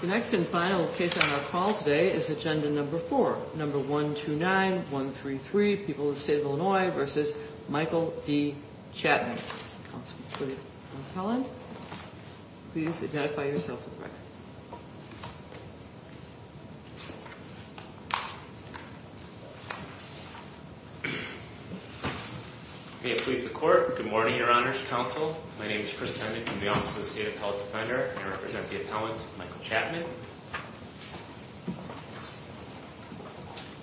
The next and final case on our call today is agenda number 4, number 129133, People of the State of Illinois v. Michael D. Chatman. Counsel to the appellant. Please identify yourself for the record. May it please the Court. Good morning, Your Honors Counsel. My name is Chris Hendrick from the Office of the State Appellate Defender, and I represent the appellant, Michael Chatman.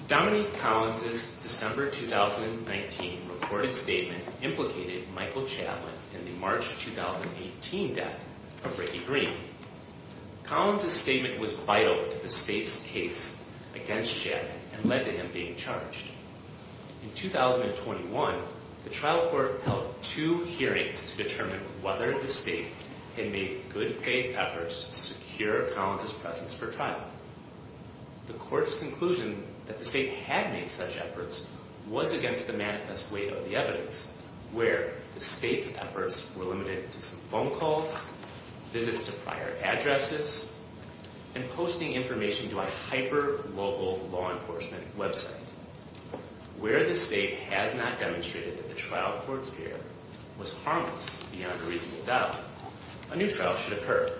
Dominique Collins' December 2019 recorded statement implicated Michael Chatman in the March 2018 death of Ricky Green. Collins' statement was vital to the State's case against Chatman and led to him being charged. In 2021, the trial court held two hearings to determine whether the State had made good faith efforts to secure Collins' presence for trial. The Court's conclusion that the State had made such efforts was against the manifest weight of the evidence, where the State's efforts were limited to some phone calls, visits to prior addresses, and posting information to a hyper-local law enforcement website. Where the State has not demonstrated that the trial court's care was harmless beyond a reasonable doubt, a new trial should occur.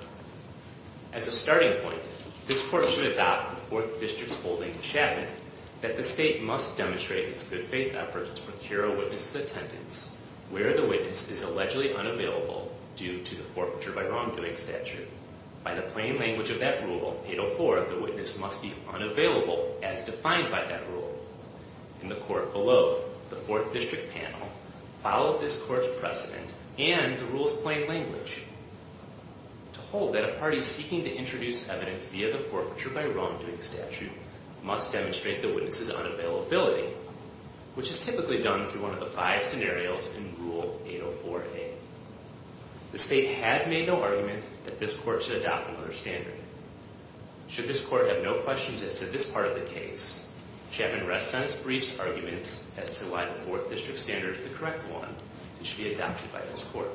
As a starting point, this Court should adopt the Fourth District's holding in Chatman that the State must demonstrate its good faith efforts to procure a witness's attendance where the witness is allegedly unavailable due to the forfeiture by wrongdoing statute. By the plain language of that rule, 804, the witness must be unavailable as defined by that rule. In the Court below, the Fourth District panel followed this Court's precedent and the rule's plain language. Told that a party seeking to introduce evidence via the forfeiture by wrongdoing statute must demonstrate the witness's unavailability, which is typically done through one of the five scenarios in Rule 804A. The State has made no argument that this Court should adopt another standard. Should this Court have no questions as to this part of the case, Chatman rests on its briefs' arguments as to why the Fourth District standard is the correct one and should be adopted by this Court.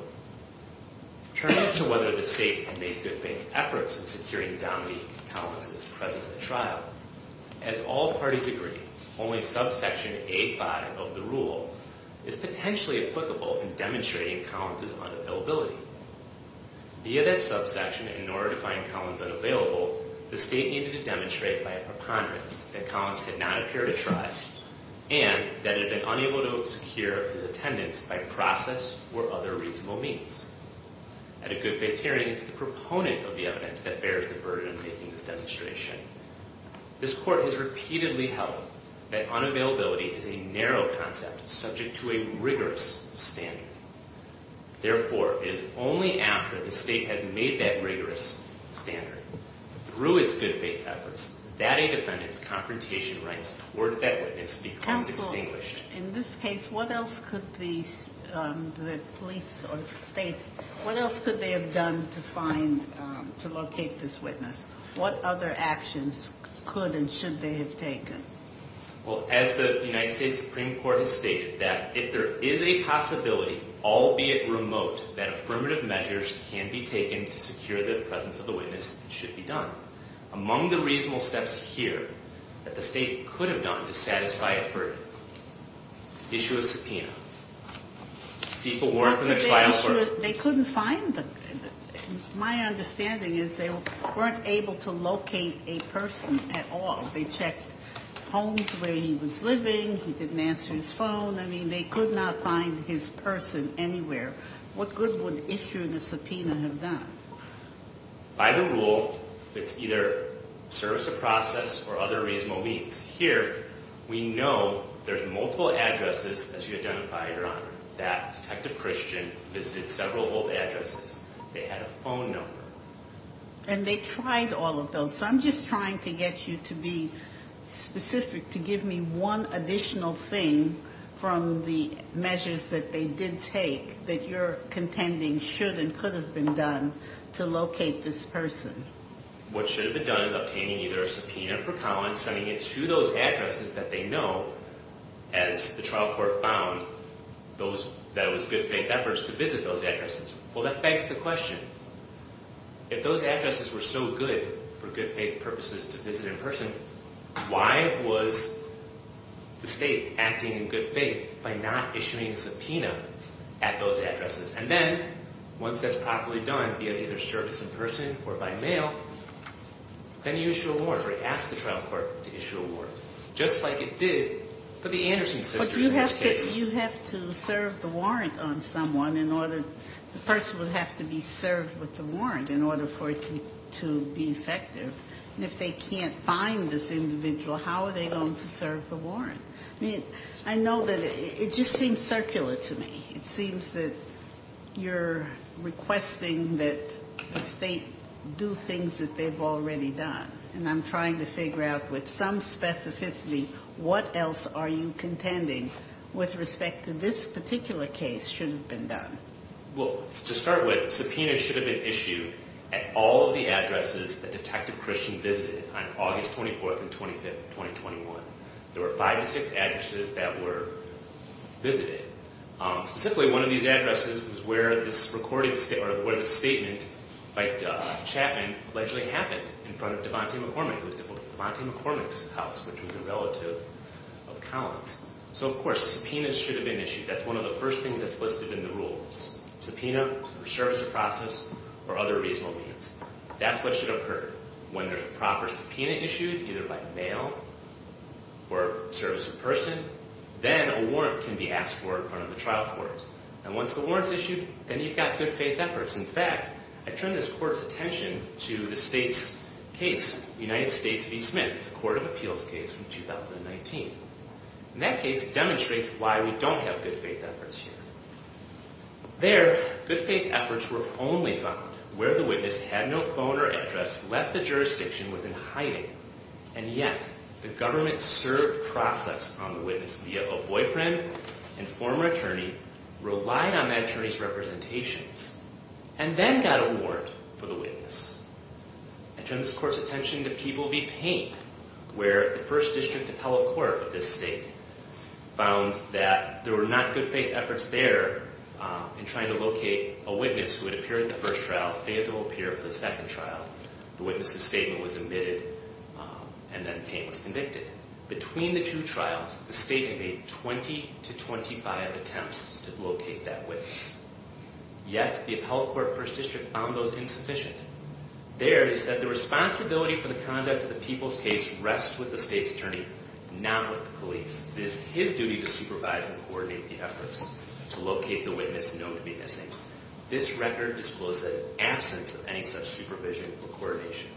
Turning to whether the State had made good faith efforts in securing Dominique Collins' presence at trial, as all parties agree, only subsection A5 of the rule is potentially applicable in demonstrating Collins' unavailability. Via that subsection, in order to find Collins unavailable, the State needed to demonstrate by a preponderance that Collins had not appeared at trial and that it had been unable to secure his attendance by process or other reasonable means. At a good faith hearing, it's the proponent of the evidence that bears the burden of making this demonstration. This Court has repeatedly held that unavailability is a narrow concept subject to a rigorous standard. Therefore, it is only after the State has made that rigorous standard through its good faith efforts that a defendant's confrontation rights towards that witness becomes extinguished. Counsel, in this case, what else could the police or the State, what else could they have done to find, to locate this witness? What other actions could and should they have taken? Well, as the United States Supreme Court has stated, that if there is a possibility, albeit remote, that affirmative measures can be taken to secure the presence of the witness, it should be done. Among the reasonable steps here that the State could have done to satisfy its burden, issue a subpoena. People weren't in the trial room. They couldn't find them. My understanding is they weren't able to locate a person at all. They checked homes where he was living. He didn't answer his phone. I mean, they could not find his person anywhere. What good would issuing a subpoena have done? By the rule, it's either service of process or other reasonable means. Here, we know there's multiple addresses, as you identify, Your Honor, that Detective Christian visited several of those addresses. They had a phone number. And they tried all of those. So I'm just trying to get you to be specific, to give me one additional thing from the measures that they did take that you're contending should and could have been done to locate this person. What should have been done is obtaining either a subpoena for Collins, sending it to those addresses that they know, as the trial court found that it was good faith efforts to visit those addresses. Well, that begs the question. If those addresses were so good for good faith purposes to visit in person, why was the state acting in good faith by not issuing a subpoena at those addresses? And then, once that's properly done via either service in person or by mail, then you issue a warrant or ask the trial court to issue a warrant, just like it did for the Anderson sisters in this case. But you have to serve the warrant on someone in order to – the person would have to be served with the warrant in order for it to be effective. And if they can't find this individual, how are they going to serve the warrant? I mean, I know that it just seems circular to me. It seems that you're requesting that the state do things that they've already done. And I'm trying to figure out, with some specificity, what else are you contending with respect to this particular case should have been done? Well, to start with, subpoenas should have been issued at all of the addresses that Detective Christian visited on August 24th and 25th, 2021. There were five to six addresses that were visited. Specifically, one of these addresses was where this recording – or where this statement by Chapman allegedly happened in front of Devontae McCormick. It was Devontae McCormick's house, which was a relative of Collins. So, of course, subpoenas should have been issued. That's one of the first things that's listed in the rules. Subpoena, service of process, or other reasonable means. That's what should have occurred. When there's a proper subpoena issued, either by mail or service in person, then a warrant can be asked for in front of the trial court. And once the warrant's issued, then you've got good faith efforts. In fact, I turn this court's attention to the state's case, United States v. Smith. It's a court of appeals case from 2019. And that case demonstrates why we don't have good faith efforts here. There, good faith efforts were only found where the witness had no phone or address, left the jurisdiction, was in hiding. And yet, the government served process on the witness via a boyfriend and former attorney, relied on that attorney's representations, and then got a warrant for the witness. I turn this court's attention to Peeble v. Payne, where the first district appellate court of this state found that there were not good faith efforts there in trying to locate a witness who had appeared in the first trial, failed to appear for the second trial. The witness's statement was omitted, and then Payne was convicted. Between the two trials, the state made 20 to 25 attempts to locate that witness. Yet, the appellate court of the first district found those insufficient. There, it said the responsibility for the conduct of the Peeble's case rests with the state's attorney, not with the police. It is his duty to supervise and coordinate the efforts to locate the witness known to be missing. This record disclosed that in absence of any such supervision or coordination.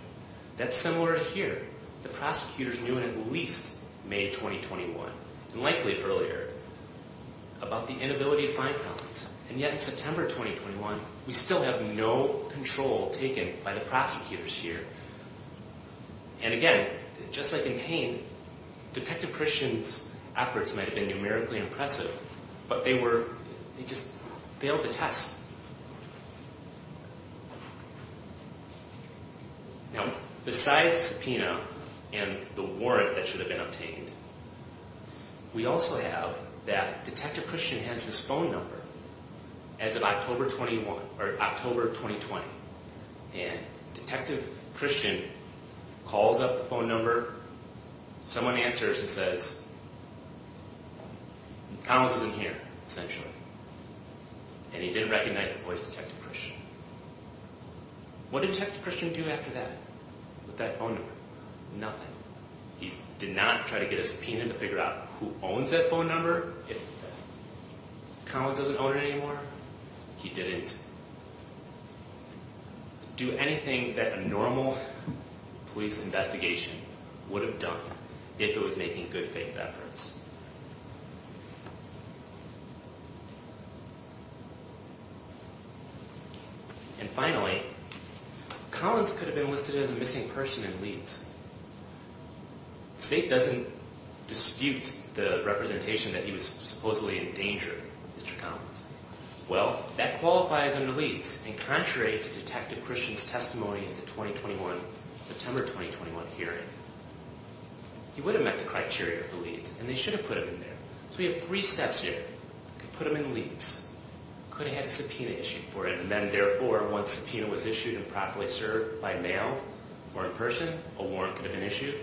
That's similar to here. The prosecutors knew in at least May 2021, and likely earlier, about the inability to find Collins. And yet, in September 2021, we still have no control taken by the prosecutors here. And again, just like in Payne, Detective Christian's efforts might have been numerically impressive, but they just failed the test. Now, besides the subpoena and the warrant that should have been obtained, we also have that Detective Christian has this phone number as of October 2020. And Detective Christian calls up the phone number. Someone answers and says, Collins isn't here, essentially. And he didn't recognize the voice of Detective Christian. What did Detective Christian do after that? With that phone number? Nothing. He did not try to get a subpoena to figure out who owns that phone number. If Collins doesn't own it anymore, he didn't do anything that a normal police investigation would have done if it was making good faith efforts. And finally, Collins could have been listed as a missing person in Leeds. The state doesn't dispute the representation that he was supposedly in danger, Mr. Collins. Well, that qualifies him to Leeds. And contrary to Detective Christian's testimony in the September 2021 hearing, he would have met the criteria for Leeds. And they should have put him in there. So we have three steps here. We could put him in Leeds. Could have had a subpoena issued for him. And then, therefore, once a subpoena was issued and properly served by mail or in person, a warrant could have been issued.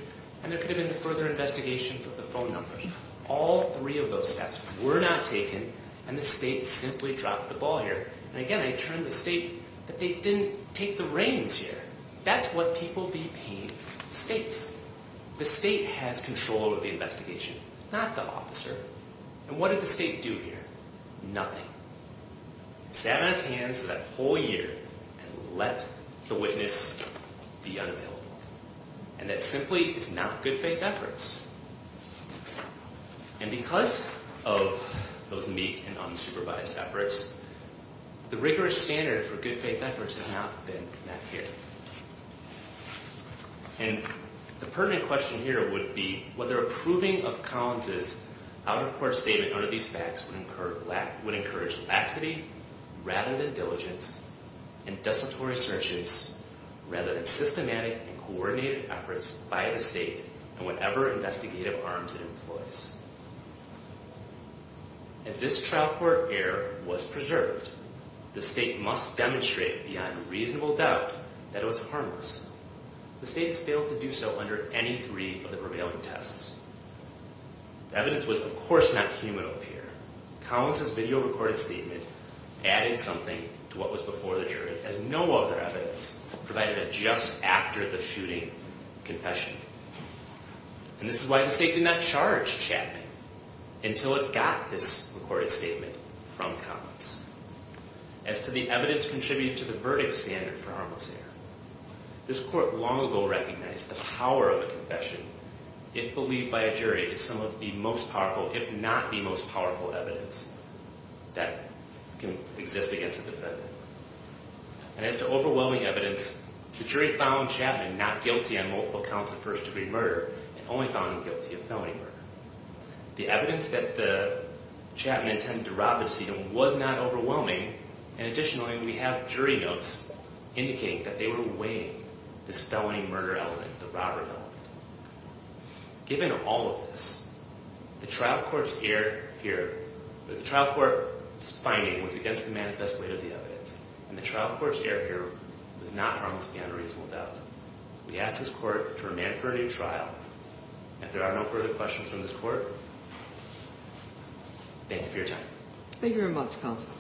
And there could have been further investigation for the phone numbers. All three of those steps were not taken. And the state simply dropped the ball here. And again, I turn to the state that they didn't take the reins here. That's what people be paying the states. The state has control over the investigation, not the officer. And what did the state do here? Nothing. It sat on its hands for that whole year and let the witness be unavailable. And that simply is not good faith efforts. And because of those meek and unsupervised efforts, the rigorous standard for good faith efforts has not been met here. And the pertinent question here would be whether approving of Collins' out-of-court statement under these facts would encourage laxity rather than diligence and desultory searches rather than systematic and coordinated efforts by the state and whatever investigative arms it employs. As this trial court error was preserved, the state must demonstrate beyond reasonable doubt that it was harmless. The state has failed to do so under any three of the prevailing tests. The evidence was, of course, not human over here. Collins' video-recorded statement added something to what was before the jury as no other evidence provided it just after the shooting confession. And this is why the state did not charge Chapman until it got this recorded statement from Collins. As to the evidence contributed to the verdict standard for harmless error, this court long ago recognized the power of a confession if believed by a jury as some of the most powerful, that can exist against a defendant. And as to overwhelming evidence, the jury found Chapman not guilty on multiple counts of first-degree murder and only found him guilty of felony murder. The evidence that Chapman intended to rob the decedent was not overwhelming, and additionally, we have jury notes indicating that they were weighing this felony murder element, the robbery element. Given all of this, the trial court's finding was against the manifest way of the evidence, and the trial court's error here was not harmless beyond a reasonable doubt. We ask this court to remand for a new trial. If there are no further questions on this court, thank you for your time. Thank you very much, counsel.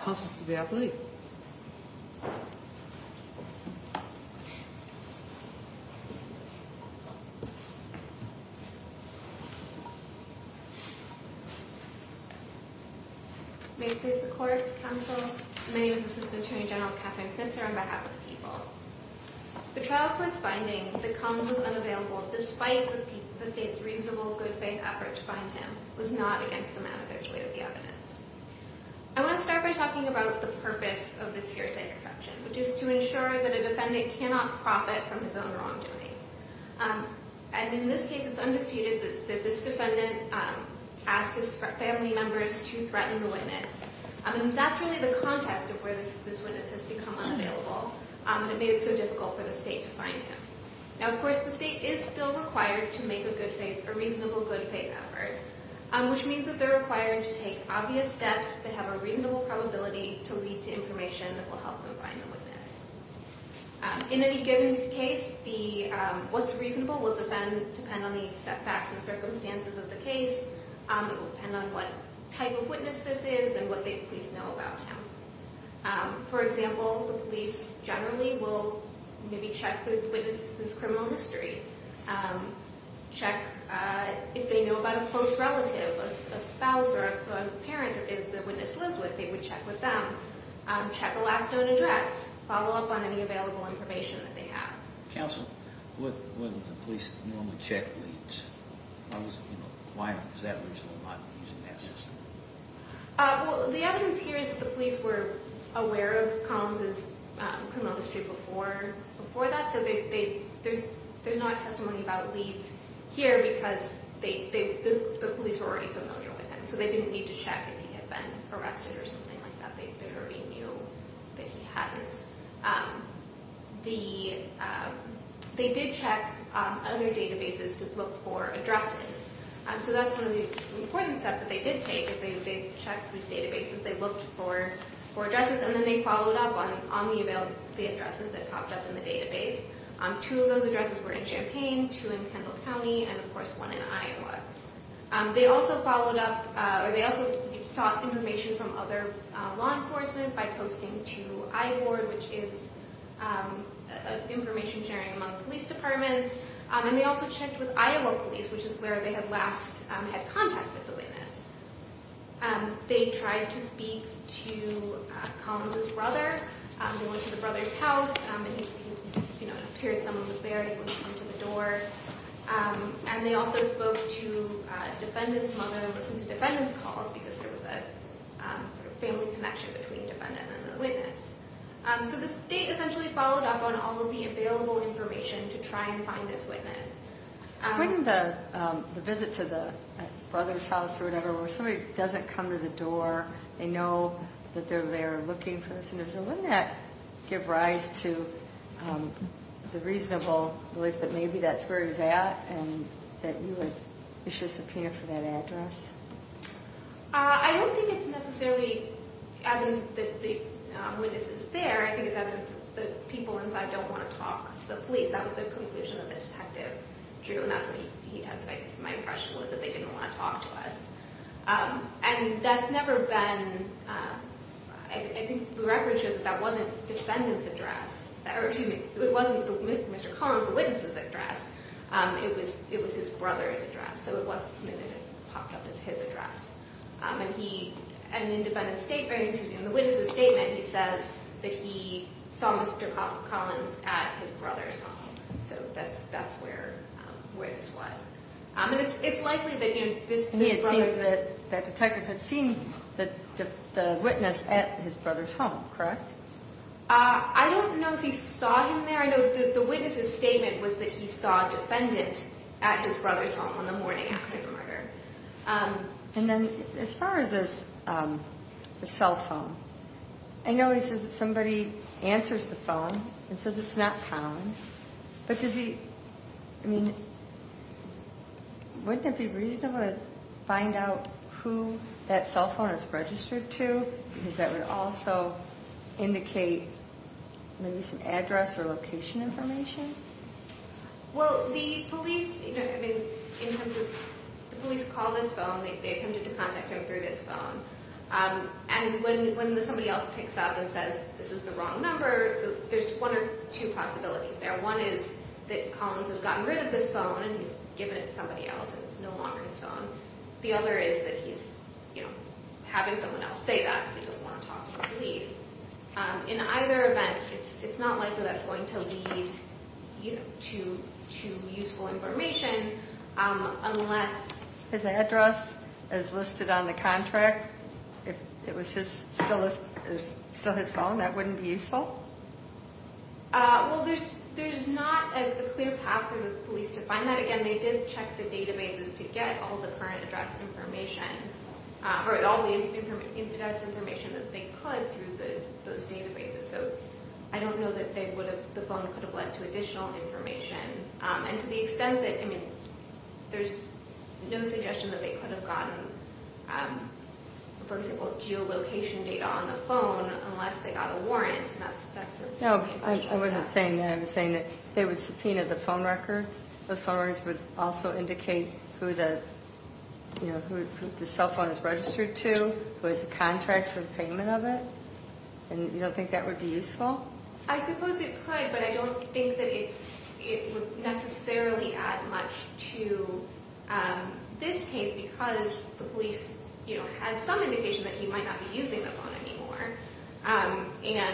Counsel to the athlete. Thank you. May it please the court, counsel. My name is Assistant Attorney General Katherine Snitzer on behalf of the people. The trial court's finding that Cumms was unavailable despite the state's reasonable, good-faith effort to find him was not against the manifest way of the evidence. I want to start by talking about the purpose of this hearsay conception, which is to ensure that a defendant cannot profit from his own wrongdoing. And in this case, it's undisputed that this defendant asked his family members to threaten the witness, and that's really the context of where this witness has become unavailable, and it made it so difficult for the state to find him. Now, of course, the state is still required to make a reasonable, good-faith effort, which means that they're required to take obvious steps that have a reasonable probability to lead to information that will help them find the witness. In any given case, what's reasonable will depend on the set facts and circumstances of the case. It will depend on what type of witness this is and what the police know about him. For example, the police generally will maybe check the witness's criminal history, check if they know about a close relative, a spouse or a parent, or if the witness lives with, they would check with them, check the last known address, follow up on any available information that they have. Counsel, wouldn't the police normally check leads? Why was that reason not used in that system? Well, the evidence here is that the police were aware of Collins' criminal history before that, so there's not testimony about leads here because the police were already familiar with him, so they didn't need to check if he had been arrested or something like that. They already knew that he hadn't. They did check other databases to look for addresses, so that's one of the important steps that they did take. They checked these databases. They looked for addresses, and then they followed up on the addresses that popped up in the database. Two of those addresses were in Champaign, two in Kendall County, and, of course, one in Iowa. They also sought information from other law enforcement by posting to iBoard, which is information sharing among police departments, and they also checked with Iowa Police, which is where they had last had contact with the witness. They tried to speak to Collins' brother. They went to the brother's house, and he appeared someone was there, and he went to the door. They also spoke to a defendant's mother and listened to defendant's calls because there was a family connection between the defendant and the witness. So the state essentially followed up on all of the available information to try and find this witness. Wouldn't the visit to the brother's house or whatever where somebody doesn't come to the door, they know that they're there looking for this individual, wouldn't that give rise to the reasonable belief that maybe that's where he was at and that you would issue a subpoena for that address? I don't think it's necessarily evidence that the witness is there. I think it's evidence that people inside don't want to talk to the police. That was the conclusion that the detective drew, and that's what he testified. My impression was that they didn't want to talk to us. I think the record shows that that wasn't Mr. Collins' witness's address. It was his brother's address, so it wasn't submitted and popped up as his address. In the witness's statement, he says that he saw Mr. Collins at his brother's home. So that's where this was. It's likely that the detective had seen the witness at his brother's home, correct? I don't know if he saw him there. The witness's statement was that he saw a defendant at his brother's home on the morning after the murder. As far as the cell phone, I know he says that somebody answers the phone and says it's not Collins, but wouldn't it be reasonable to find out who that cell phone is registered to? Because that would also indicate maybe some address or location information. Well, the police called this phone. They attempted to contact him through this phone. And when somebody else picks up and says this is the wrong number, there's one or two possibilities there. One is that Collins has gotten rid of this phone and he's given it to somebody else and it's no longer his phone. The other is that he's having someone else say that because he doesn't want to talk to the police. In either event, it's not likely that's going to lead to useful information unless... If it was still his phone, that wouldn't be useful? Well, there's not a clear path for the police to find that. Again, they did check the databases to get all the current address information, or all the infidece information that they could through those databases. So I don't know that the phone could have led to additional information. And to the extent that, I mean, there's no suggestion that they could have gotten, for example, geolocation data on the phone unless they got a warrant. No, I wasn't saying that. I was saying that they would subpoena the phone records. Those phone records would also indicate who the cell phone is registered to, who has a contract for the payment of it. And you don't think that would be useful? Well, I suppose it could, but I don't think that it would necessarily add much to this case because the police had some indication that he might not be using the phone anymore.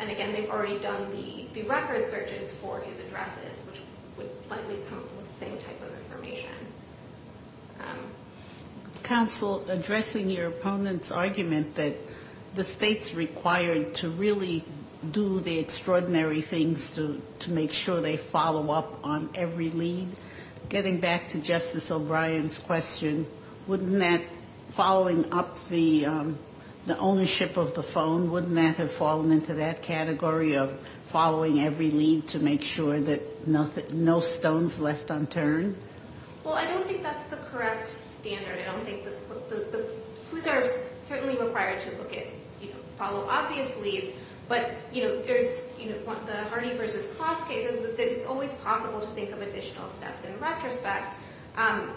And again, they've already done the record searches for his addresses, which would likely come up with the same type of information. Counsel, addressing your opponent's argument that the State's required to really do the extraordinary things to make sure they follow up on every lead, getting back to Justice O'Brien's question, wouldn't that, following up the ownership of the phone, wouldn't that have fallen into that category of following every lead to make sure that no stone's left unturned? Well, I don't think that's the correct standard. I don't think the police are certainly required to follow obvious leads, but the Harney v. Cross case is that it's always possible to think of additional steps in retrospect. And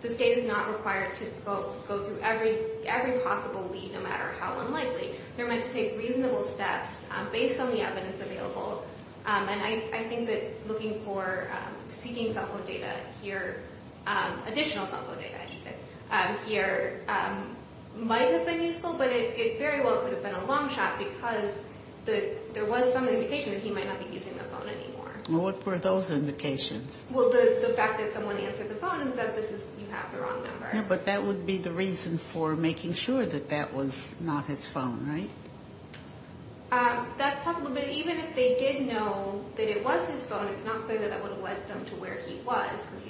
the State is not required to go through every possible lead, no matter how unlikely. They're meant to take reasonable steps based on the evidence available. And I think that looking for seeking cell phone data here, additional cell phone data, I should say, here might have been useful, but it very well could have been a long shot because there was some indication that he might not be using the phone anymore. Well, what were those indications? Well, the fact that someone answered the phone and said, you have the wrong number. Yeah, but that would be the reason for making sure that that was not his phone, right? That's possible. But even if they did know that it was his phone, it's not clear that that would have led them to where he was because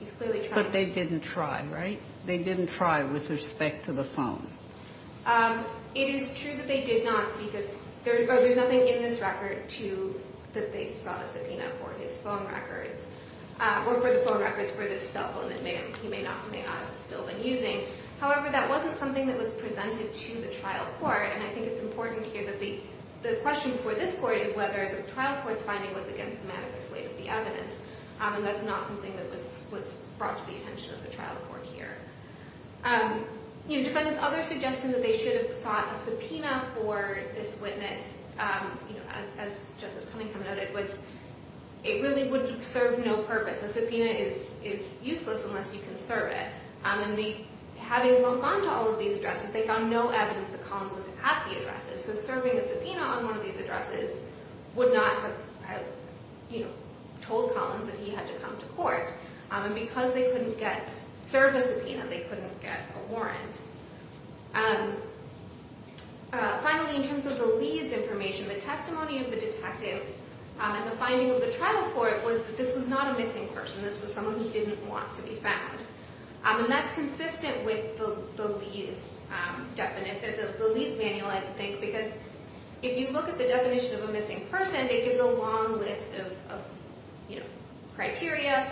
he's clearly trying to- But they didn't try, right? They didn't try with respect to the phone. It is true that they did not seek a- or there's nothing in this record to- that they sought a subpoena for his phone records, or for the phone records for this cell phone that he may or may not have still been using. However, that wasn't something that was presented to the trial court, and I think it's important here that the question for this court is whether the trial court's finding was against the manifest way of the evidence, and that's not something that was brought to the attention of the trial court here. You know, defendants' other suggestion that they should have sought a subpoena for this witness, you know, as Justice Cunningham noted, was it really would serve no purpose. A subpoena is useless unless you can serve it. And having looked onto all of these addresses, they found no evidence that Collins was at the addresses, so serving a subpoena on one of these addresses would not have, you know, told Collins that he had to come to court. And because they couldn't get- serve a subpoena, they couldn't get a warrant. Finally, in terms of the lead's information, the testimony of the detective and the finding of the trial court was that this was not a missing person. This was someone who didn't want to be found. And that's consistent with the lead's definite- the lead's manual, I think, because if you look at the definition of a missing person, it gives a long list of, you know, criteria,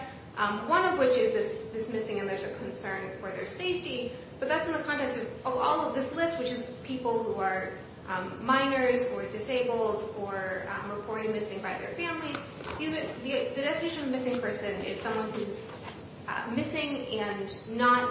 one of which is this missing and there's a concern for their safety, but that's in the context of all of this list, which is people who are minors or disabled or reported missing by their families. The definition of a missing person is someone who's missing and not-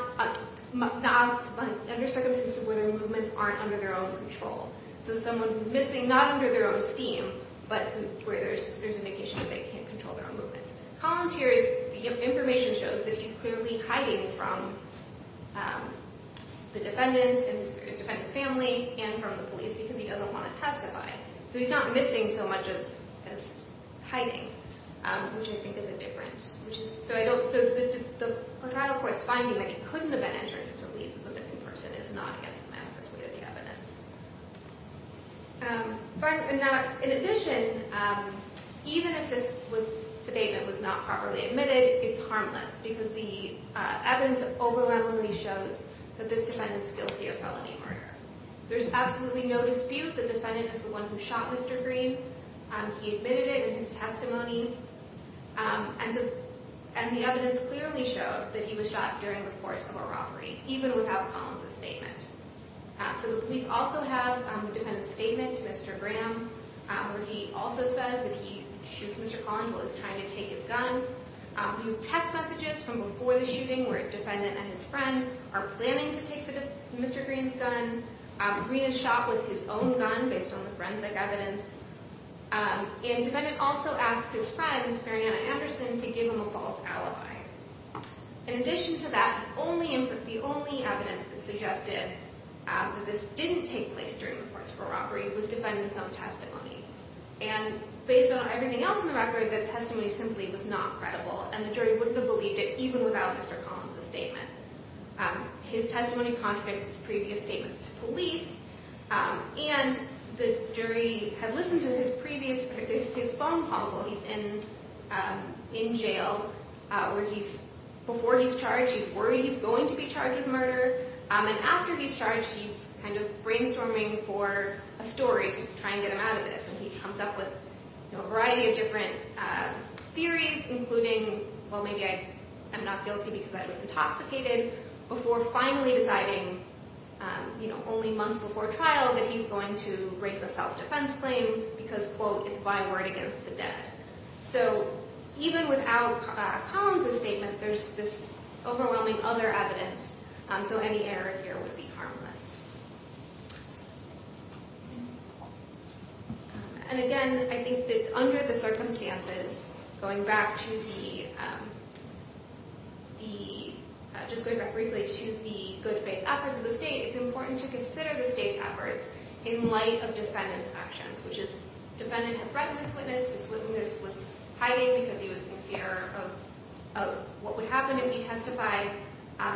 under circumstances where their movements aren't under their own control. So someone who's missing not under their own esteem, but where there's an indication that they can't control their own movements. Collins here is- the information shows that he's clearly hiding from the defendant and his family and from the police because he doesn't want to testify. So he's not missing so much as hiding, which I think is a difference. Which is- so I don't- so the trial court's finding that he couldn't have been entered into leads as a missing person is not against the manifest way of the evidence. In addition, even if this statement was not properly admitted, it's harmless because the evidence overwhelmingly shows that this defendant's guilty of felony murder. There's absolutely no dispute that the defendant is the one who shot Mr. Green. He admitted it in his testimony and the evidence clearly showed that he was shot during the course of a robbery, even without Collins' statement. So the police also have the defendant's statement to Mr. Graham where he also says that he shoots Mr. Collins while he's trying to take his gun. We have text messages from before the shooting where the defendant and his friend are planning to take Mr. Green's gun. Green is shot with his own gun based on the forensic evidence. And the defendant also asks his friend, Marianna Anderson, to give him a false alibi. In addition to that, the only evidence that suggested that this didn't take place during the course of a robbery was the defendant's own testimony. And based on everything else in the record, the testimony simply was not credible and the jury wouldn't have believed it even without Mr. Collins' statement. His testimony contradicts his previous statements to police and the jury had listened to his phone call while he's in jail where before he's charged he's worried he's going to be charged with murder. And after he's charged, he's kind of brainstorming for a story to try and get him out of this. And he comes up with a variety of different theories, including, well, maybe I'm not guilty because I was intoxicated, before finally deciding only months before trial that he's going to raise a self-defense claim because, quote, it's by word against the dead. So even without Collins' statement, there's this overwhelming other evidence. So any error here would be harmless. And again, I think that under the circumstances, going back to the good faith efforts of the state, it's important to consider the state's efforts in light of defendant's actions, which is defendant had threatened this witness, this witness was hiding because he was in fear of what would happen if he testified.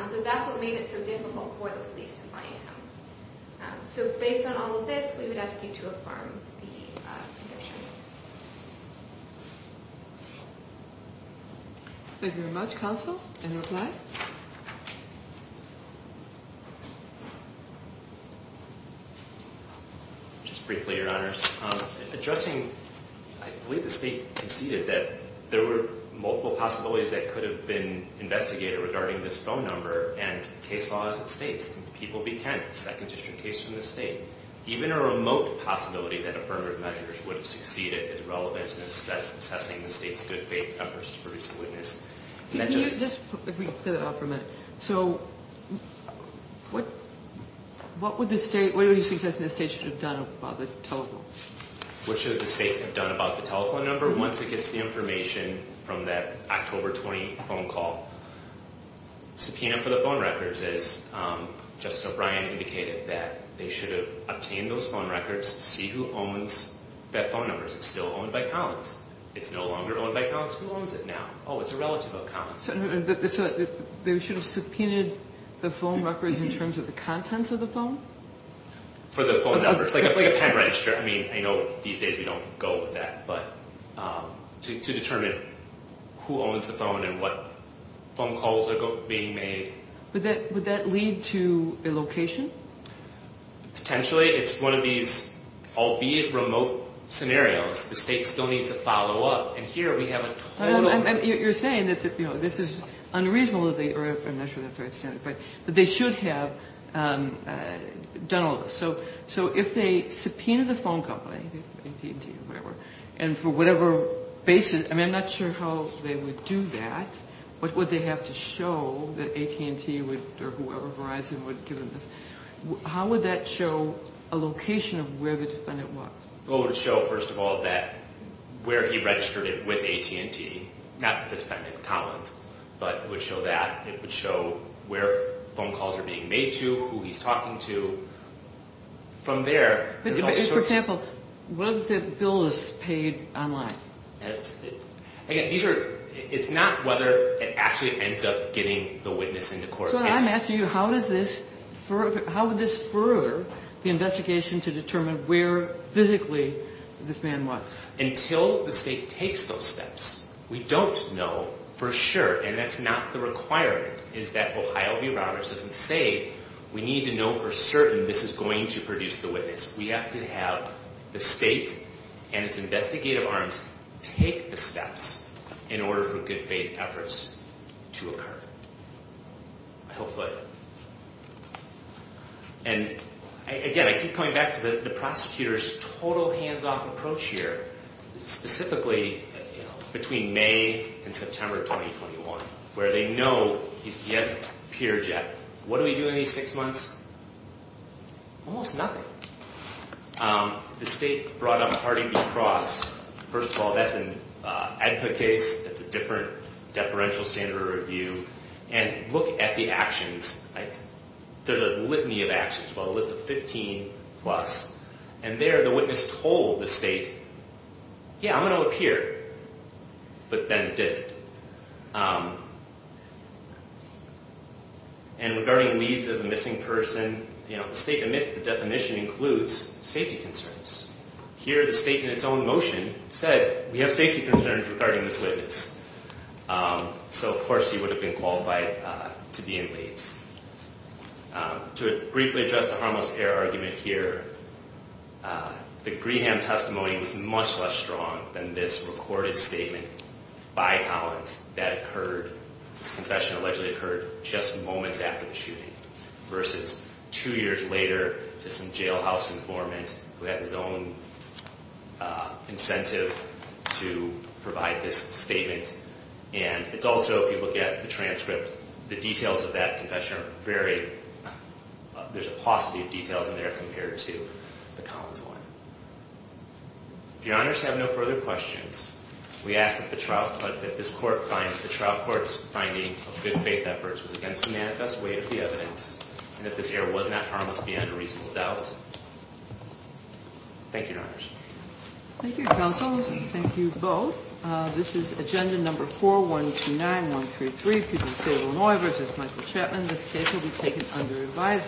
So that's what made it so difficult for the police to find him. So based on all of this, we would ask you to affirm the conviction. Thank you very much, counsel. In reply? Just briefly, Your Honors. Addressing, I believe the state conceded that there were multiple possibilities that could have been investigated regarding this phone number and case law as it states, people be counted, second district case from the state. Even a remote possibility that affirmative measures would have succeeded is relevant in assessing the state's good faith efforts to produce a witness. Let me clear that up for a minute. So what would the state, what do you think the state should have done about the telephone? What should the state have done about the telephone number once it gets the information from that October 20 phone call? Subpoena for the phone records is, Justice O'Brien indicated that they should have obtained those phone records, see who owns that phone number. Is it still owned by Collins? It's no longer owned by Collins. Who owns it now? Oh, it's a relative of Collins. They should have subpoenaed the phone records in terms of the contents of the phone? For the phone numbers, like a pen register. I mean, I know these days we don't go with that, but to determine who owns the phone and what phone calls are being made. Would that lead to a location? Potentially. It's one of these, albeit remote, scenarios. The state still needs to follow up. And here we have a total. You're saying that this is unreasonable that they, or I'm not sure that that's right, but they should have done all of this. So if they subpoenaed the phone company, AT&T or whatever, and for whatever basis, I mean, I'm not sure how they would do that. What would they have to show that AT&T or whoever, Verizon, would give them this? How would that show a location of where the defendant was? Well, it would show, first of all, that where he registered it with AT&T, not the defendant, Collins, but it would show that. It would show where phone calls are being made to, who he's talking to. From there, there's all sorts of... For example, whether the bill is paid online. Again, it's not whether it actually ends up getting the witness into court. So I'm asking you, how would this further the investigation to determine where physically this man was? Until the state takes those steps. We don't know for sure, and that's not the requirement, is that Ohio v. Roberts doesn't say we need to know for certain this is going to produce the witness. We have to have the state and its investigative arms take the steps in order for good faith efforts to occur. I hope... And again, I keep coming back to the prosecutor's total hands-off approach here, specifically between May and September 2021, where they know he hasn't appeared yet. What do we do in these six months? Almost nothing. The state brought up Hardy v. Cross. First of all, that's an ad hoc case. That's a different deferential standard of review. And look at the actions. There's a litany of actions, well, a list of 15-plus. And there, the witness told the state, yeah, I'm going to appear. But then it didn't. And regarding Leeds as a missing person, you know, the state admits the definition includes safety concerns. Here, the state, in its own motion, said we have safety concerns regarding this witness. So, of course, he would have been qualified to be in Leeds. To briefly address the harmless error argument here, the Greenham testimony was much less strong than this recorded statement by Collins that occurred. This confession allegedly occurred just moments after the shooting, versus two years later to some jailhouse informant who has his own incentive to provide this statement. And it's also, if you look at the transcript, the details of that confession are very... If Your Honors have no further questions, we ask that the trial court's finding of good faith efforts was against the manifest weight of the evidence, and that this error was not harmless beyond a reasonable doubt. Thank you, Your Honors. Thank you, counsel. Thank you both. This is agenda number 4129133, Puget Sound, Illinois, versus Michael Chapman. This case will be taken under advisement.